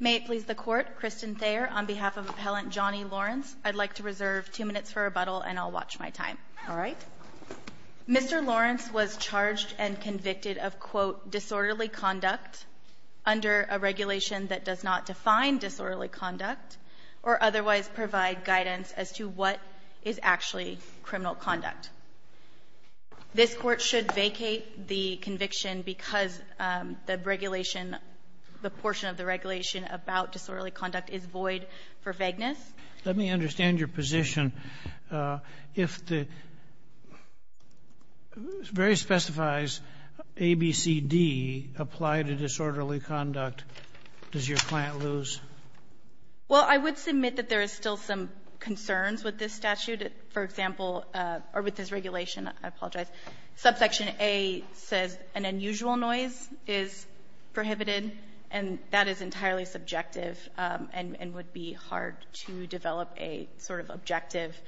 I'd like to reserve 2 minutes for rebuttal and I'll watch my time. All right. Mr. Lawrence was charged and convicted of, quote, disorderly conduct under a regulation that does not define disorderly conduct or otherwise provide guidance as to what is actually criminal conduct. This court should vacate the conviction because the regulation does not provide guidance as to what is actually criminal conduct. The portion of the regulation about disorderly conduct is void for vagueness. Let me understand your position. If the very specifies A, B, C, D apply to disorderly conduct, does your client lose? Well, I would submit that there is still some concerns with this statute. For example, or with this regulation, I apologize, subsection A says an unusual noise is prohibited, and that is entirely subjective and would be hard to develop a sort of objective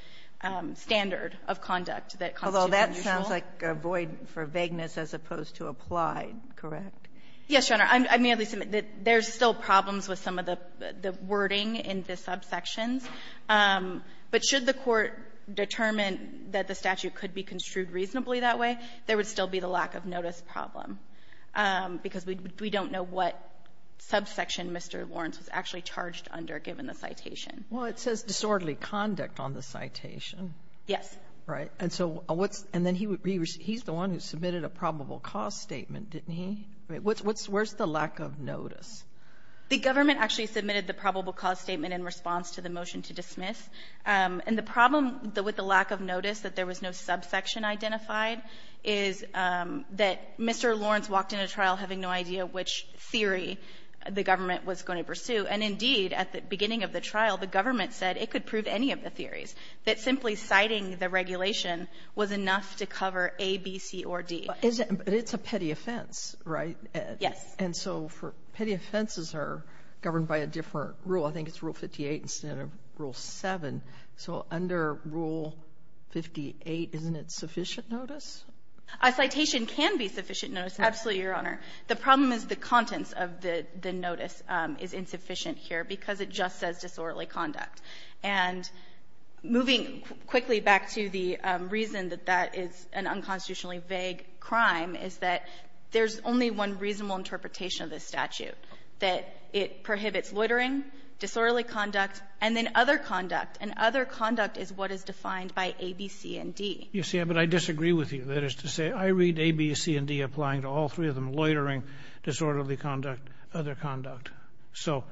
standard of conduct that constitutes unusual. Although that sounds like a void for vagueness as opposed to applied, correct? Yes, Your Honor. I may at least submit that there's still problems with some of the wording in the subsections. But should the Court determine that the statute could be construed reasonably that way, there would still be the lack of notice problem, because we don't know what subsection Mr. Lawrence was actually charged under, given the citation. Well, it says disorderly conduct on the citation. Yes. Right. And so what's the one who submitted a probable cause statement, didn't he? Where's the lack of notice? The government actually submitted the probable cause statement in response to the motion to dismiss. And the problem with the lack of notice, that there was no subsection identified, is that Mr. Lawrence walked in a trial having no idea which theory the government was going to pursue. And indeed, at the beginning of the trial, the government said it could prove any of the theories, that simply citing the regulation was enough to cover A, B, C, or D. But it's a petty offense, right? Yes. And so for petty offenses are governed by a different rule. I think it's Rule 58 instead of Rule 7. So under Rule 58, isn't it sufficient notice? A citation can be sufficient notice, absolutely, Your Honor. The problem is the contents of the notice is insufficient here, because it just says disorderly conduct. And moving quickly back to the reason that that is an unconstitutionally vague crime, is that there's only one reasonable interpretation of this statute, that it prohibits loitering, disorderly conduct, and then other conduct. And other conduct is what is defined by A, B, C, and D. You see, but I disagree with you. That is to say, I read A, B, C, and D applying to all three of them, loitering, disorderly conduct, other conduct. So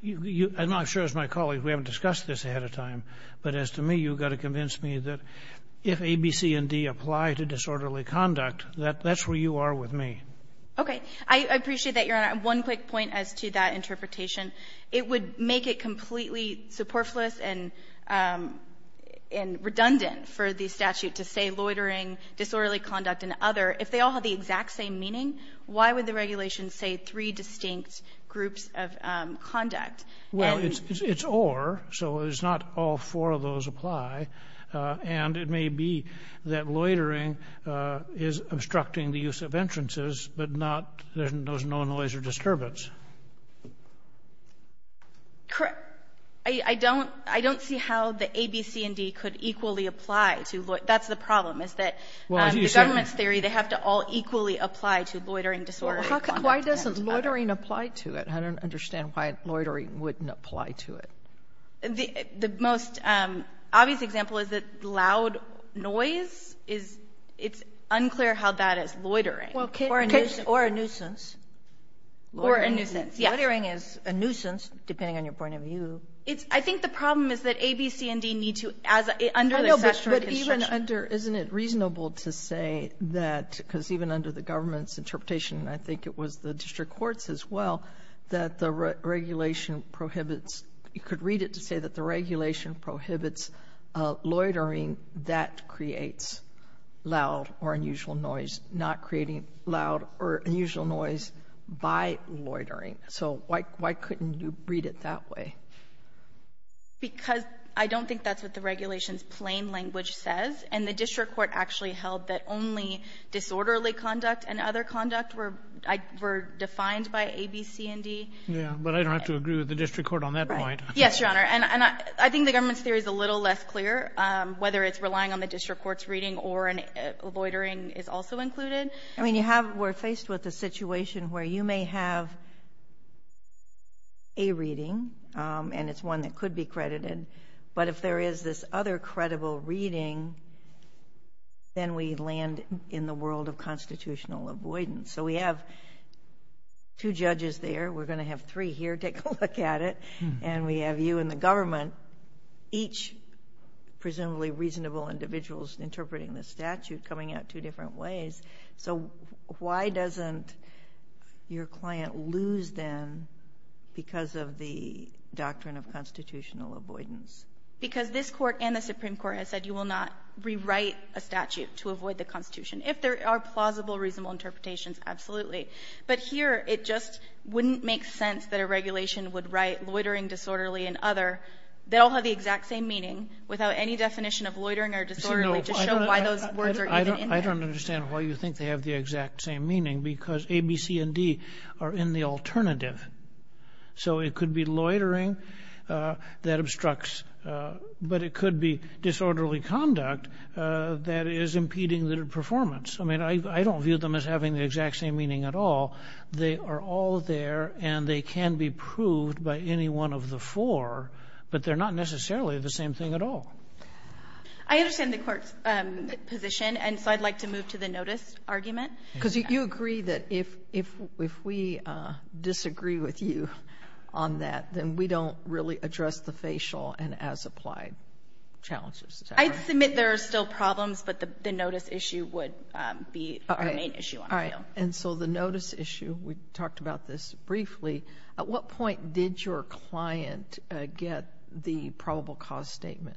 you — I'm not sure as my colleague, we haven't discussed this ahead of time, but as to me, you've got to convince me that if A, B, C, and D apply to disorderly conduct, that's where you are with me. Okay. I appreciate that, Your Honor. One quick point as to that interpretation. It would make it completely superfluous and redundant for the statute to say loitering, disorderly conduct, and other. If they all have the exact same meaning, why would the regulation say three distinct groups of conduct? Well, it's or, so it's not all four of those apply. And it may be that loitering is obstructing the use of entrances, but not — there's no noise or disturbance. I don't — I don't see how the A, B, C, and D could equally apply to loitering. That's the problem, is that the government's theory, they have to all equally apply to loitering, disorderly conduct, and other. Well, why doesn't loitering apply to it? I don't understand why loitering wouldn't apply to it. The most obvious example is that loud noise is — it's unclear how that is loitering. Or a nuisance. Or a nuisance. Yes. Loitering is a nuisance, depending on your point of view. It's — I think the problem is that A, B, C, and D need to, as — under the statutory construction. I know, but even under — isn't it reasonable to say that, because even under the government's rule as well, that the regulation prohibits — you could read it to say that the regulation prohibits loitering that creates loud or unusual noise, not creating loud or unusual noise by loitering. So why couldn't you read it that way? Because I don't think that's what the regulation's plain language says. And the district court actually held that only disorderly conduct and other conduct were — were defined by A, B, C, and D. Yeah. But I don't have to agree with the district court on that point. Yes, Your Honor. And I think the government's theory is a little less clear, whether it's relying on the district court's reading or loitering is also included. I mean, you have — we're faced with a situation where you may have a reading, and it's one that could be credited. But if there is this other credible reading, then we land in the world of constitutional avoidance. So we have two judges there. We're going to have three here take a look at it. And we have you and the government, each presumably reasonable individuals interpreting the statute, coming out two different ways. So why doesn't your client lose, then, because of the doctrine of constitutional avoidance? Because this Court and the Supreme Court has said you will not rewrite a statute to avoid the Constitution. If there are plausible, reasonable interpretations, absolutely. But here, it just wouldn't make sense that a regulation would write loitering disorderly and other. They all have the exact same meaning without any definition of loitering or disorderly to show why those words are even in there. I don't understand why you think they have the exact same meaning, because A, B, C, and D are in the alternative. So it could be loitering that obstructs, but it could be disorderly conduct that is I mean, I don't view them as having the exact same meaning at all. They are all there, and they can be proved by any one of the four, but they're not necessarily the same thing at all. I understand the Court's position, and so I'd like to move to the notice argument. Because you agree that if we disagree with you on that, then we don't really address the facial and as-applied challenges. I'd submit there are still problems, but the notice issue would be our main issue on appeal. All right. And so the notice issue, we talked about this briefly. At what point did your client get the probable cause statement?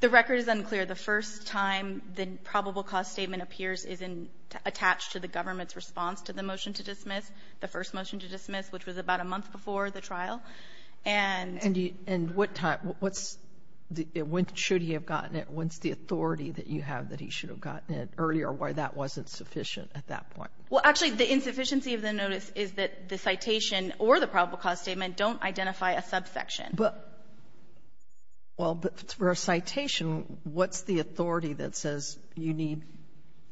The record is unclear. The first time the probable cause statement appears is attached to the government's response to the motion to dismiss, the first motion to dismiss, which was about a month before the trial. And you And what time? What's the When should he have gotten it? When's the authority that you have that he should have gotten it earlier, or why that wasn't sufficient at that point? Well, actually, the insufficiency of the notice is that the citation or the probable cause statement don't identify a subsection. But well, but for a citation, what's the authority that says you need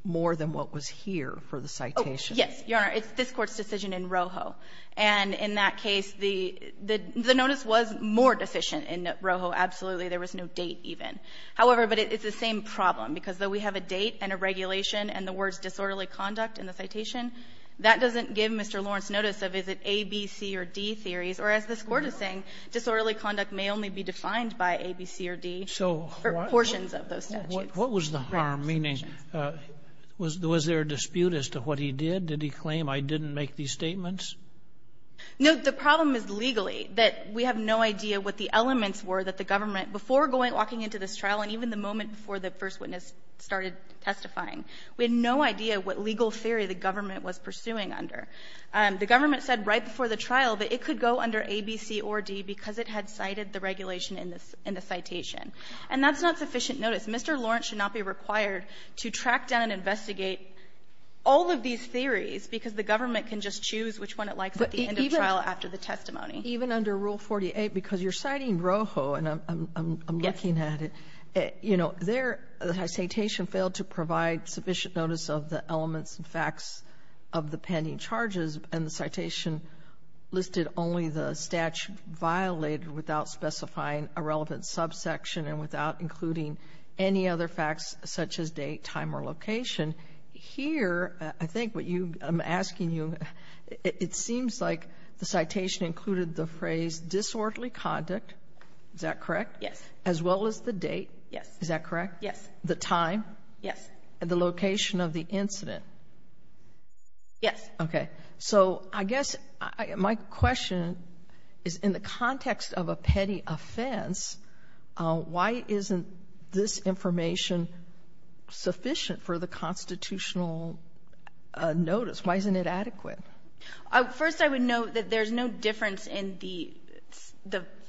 more than what was here for the citation? Yes. Your Honor, it's this Court's decision in Rojo. And in that case, the notice was more deficient in Rojo. Absolutely. There was no date even. However, but it's the same problem, because though we have a date and a regulation and the words disorderly conduct in the citation, that doesn't give Mr. Lawrence notice of is it A, B, C, or D theories, or as this Court is saying, disorderly conduct may only be defined by A, B, C, or D portions of those statutes. What was the harm, meaning was there a dispute as to what he did? Did he claim I didn't make these statements? No. The problem is legally, that we have no idea what the elements were that the government before going, walking into this trial and even the moment before the first witness started testifying, we had no idea what legal theory the government was pursuing under. The government said right before the trial that it could go under A, B, C, or D because it had cited the regulation in the citation. And that's not sufficient notice. Mr. Lawrence should not be required to track down and investigate all of these theories, because the government can just choose which one it likes at the end of trial after the testimony. Even under Rule 48, because you're citing Rojo, and I'm looking at it, you know, their citation failed to provide sufficient notice of the elements and facts of the pending charges, and the citation listed only the statute violated without specifying a relevant subsection and without including any other facts such as date, time, or location. Here, I think what you — I'm asking you, it seems like the citation included the phrase, ''disorderly conduct'', is that correct? Yes. As well as the date? Yes. Is that correct? Yes. The time? Yes. And the location of the incident? Yes. Okay. So I guess my question is, in the context of a petty offense, why isn't this information sufficient for the constitutional notice? Why isn't it adequate? First, I would note that there's no difference in the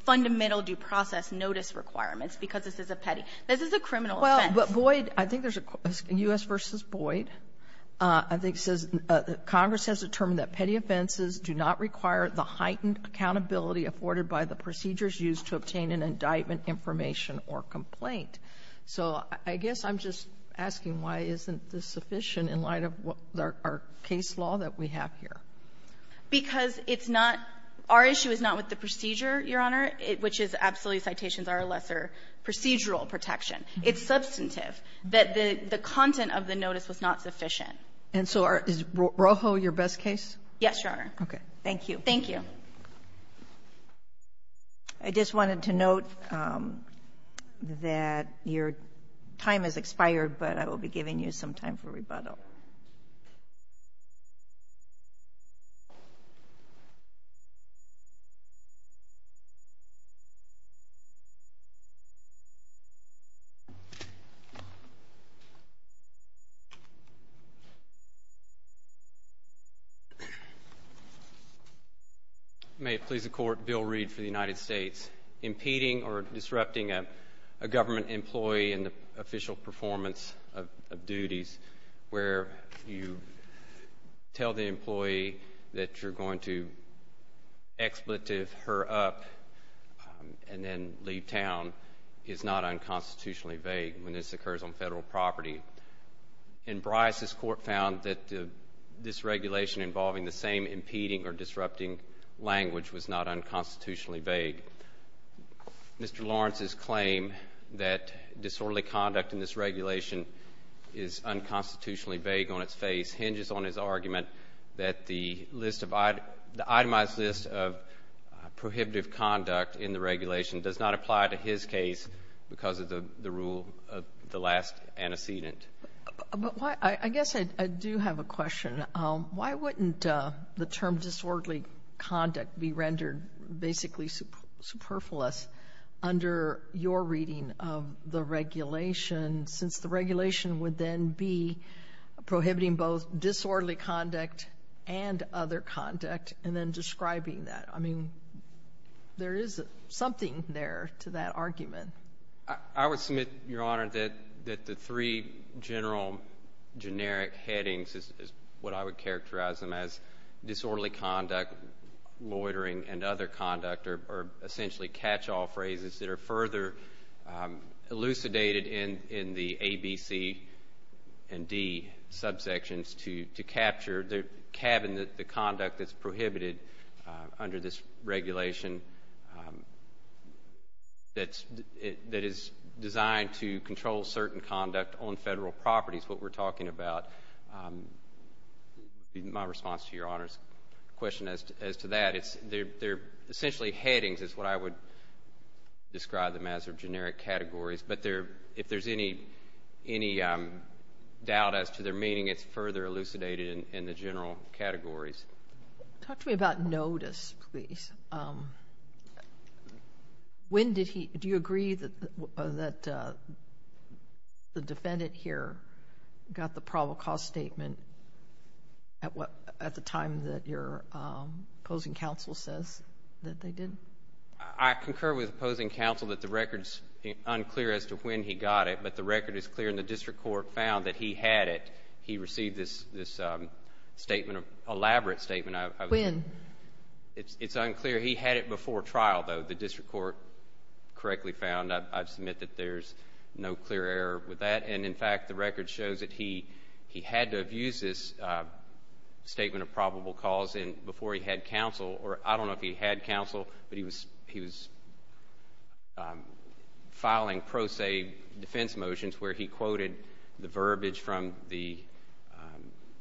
fundamental due process notice requirements, because this is a petty. This is a criminal offense. Well, but Boyd — I think there's a — U.S. v. Boyd, I think, says Congress has determined that petty offenses do not require the heightened accountability afforded by the procedures used to obtain an indictment, information, or complaint. So I guess I'm just asking why isn't this sufficient in light of what — our case law that we have here? Because it's not — our issue is not with the procedure, Your Honor, which is absolutely citations are a lesser procedural protection. It's substantive that the content of the notice was not sufficient. And so is Rojo your best case? Yes, Your Honor. Okay. Thank you. Thank you. I just wanted to note that your time has expired, but I will be giving you some time for rebuttal. May it please the Court, Bill Reed for the United States, impeding or disrupting a government employee in the official performance of duties where you tell the employee that you're going to expletive her up and then leave town is not unconstitutionally vague when this occurs on Federal property. In Bryce, this Court found that this regulation involving the same impeding or disrupting language was not unconstitutionally vague. Mr. Lawrence's claim that disorderly conduct in this regulation is unconstitutionally vague on its face hinges on his argument that the list of — the itemized list of prohibitive conduct in the regulation does not apply to his case because of the rule of the last antecedent. But why — I guess I do have a question. Why wouldn't the term disorderly conduct be rendered basically superfluous under your reading of the regulation, since the regulation would then be prohibiting both disorderly conduct and other conduct, and then describing that? I mean, there is something there to that argument. I would submit, Your Honor, that the three general generic headings is what I would characterize them as disorderly conduct, loitering, and other conduct, or essentially catch-all phrases that are further elucidated in the A, B, C, and D subsections to capture, to cabin the that is designed to control certain conduct on Federal properties, what we're talking about. My response to Your Honor's question as to that, it's — they're essentially headings is what I would describe them as, or generic categories. But there — if there's any doubt as to their meaning, it's further elucidated in the general categories. Talk to me about notice, please. When did he — do you agree that the defendant here got the probable cause statement at the time that your opposing counsel says that they did? I concur with opposing counsel that the record is unclear as to when he got it, but the record is clear, and the district court found that he had it. He received this statement, elaborate statement. When? It's unclear. He had it before trial, though, the district court correctly found. I submit that there's no clear error with that, and in fact, the record shows that he had to have used this statement of probable cause before he had counsel, or I don't know if he had counsel, but he was filing pro se defense motions where he quoted the verbiage from the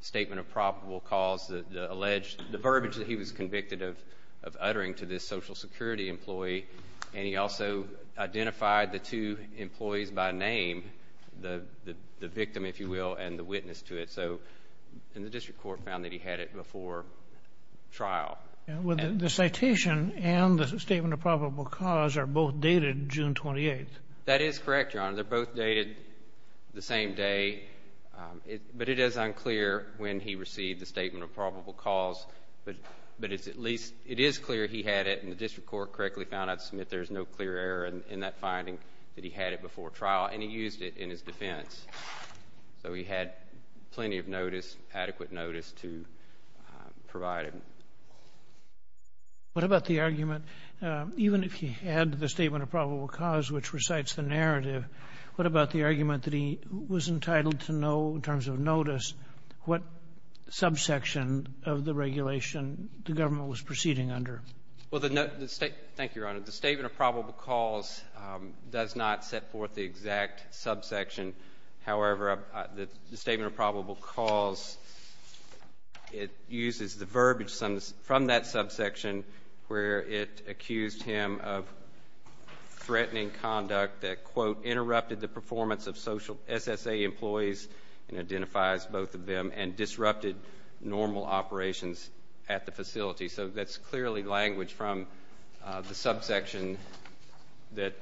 statement of probable cause, the alleged — the verbiage that he was convicted of uttering to this Social Security employee, and he also identified the two employees by name, the victim, if you will, and the witness to it. So — and the district court found that he had it before trial. And the citation and the statement of probable cause are both dated June 28th. That is correct, Your Honor. They're both dated the same day, but it is unclear when he received the statement of probable cause, but it's at least — it is clear he had it, and the district court correctly found. I submit there's no clear error in that finding that he had it before trial, and he used it in his defense. So he had plenty of notice, adequate notice to provide it. What about the argument, even if he had the statement of probable cause, which recites the narrative, what about the argument that he was entitled to know, in terms of notice, what subsection of the regulation the government was proceeding under? Well, the — thank you, Your Honor. The statement of probable cause does not set forth the exact subsection. However, the statement of probable cause, it uses the verbiage from that subsection where it accused him of threatening conduct that, quote, interrupted the performance of social — SSA employees, and identifies both of them, and disrupted normal operations at the facility. So that's clearly language from the subsection that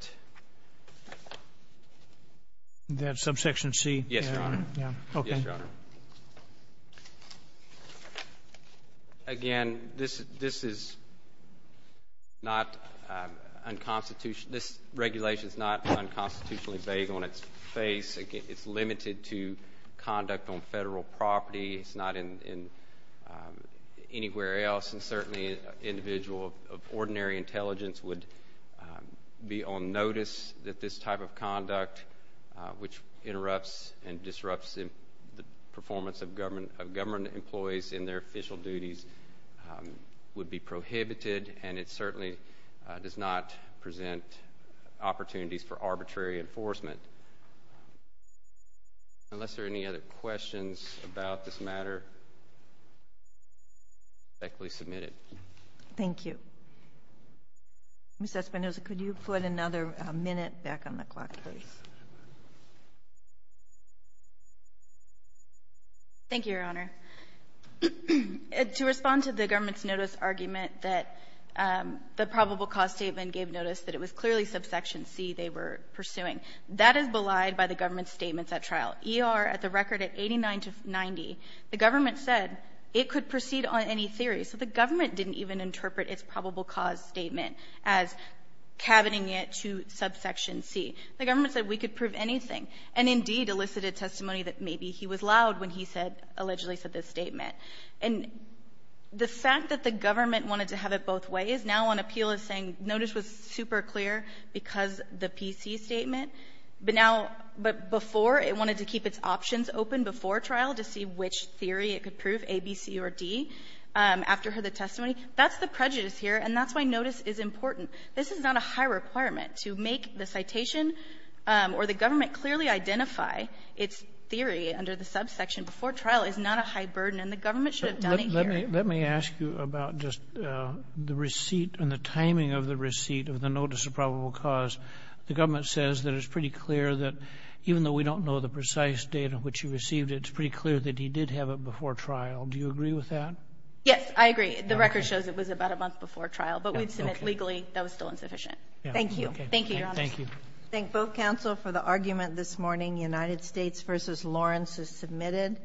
— That subsection C. Yes, Your Honor. Yeah. Okay. Yes, Your Honor. Again, this is not unconstitutional — this regulation is not unconstitutionally vague on its face. Again, it's limited to conduct on federal property. It's not in anywhere else, and certainly an individual of ordinary intelligence would be on notice that this type of conduct, which interrupts and disrupts the performance of government employees in their official duties, would be prohibited, and it certainly does not present opportunities for arbitrary enforcement. Unless there are any other questions about this matter, I respectfully submit it. Thank you. Ms. Espinosa, could you put another minute back on the clock, please? Thank you, Your Honor. To respond to the government's notice argument that the probable cause statement gave notice that it was clearly subsection C they were pursuing, that is belied by the government's statements at trial. ER, at the record, at 89 to 90, the government said it could proceed on any theory. So the government didn't even interpret its probable cause statement as cabining it to subsection C. The government said we could prove anything, and, indeed, elicited testimony that maybe he was loud when he said — allegedly said this statement. And the fact that the government wanted to have it both ways, now on appeal is saying notice was super clear because the PC statement, but now — but before, it wanted to keep its options open before trial to see which theory it could prove, A, B, C, or D, after the testimony. That's the prejudice here, and that's why notice is important. This is not a high requirement. To make the citation or the government clearly identify its theory under the subsection before trial is not a high burden, and the government should have done it here. Let me ask you about just the receipt and the timing of the receipt of the notice of probable cause. The government says that it's pretty clear that even though we don't know the precise data which you received, it's pretty clear that he did have it before trial. Do you agree with that? Yes, I agree. The record shows it was about a month before trial, but we'd submit legally that was still insufficient. Thank you. Thank you, Your Honor. Thank you. Thank both counsel for the argument this morning. United States v. Lawrence is submitted.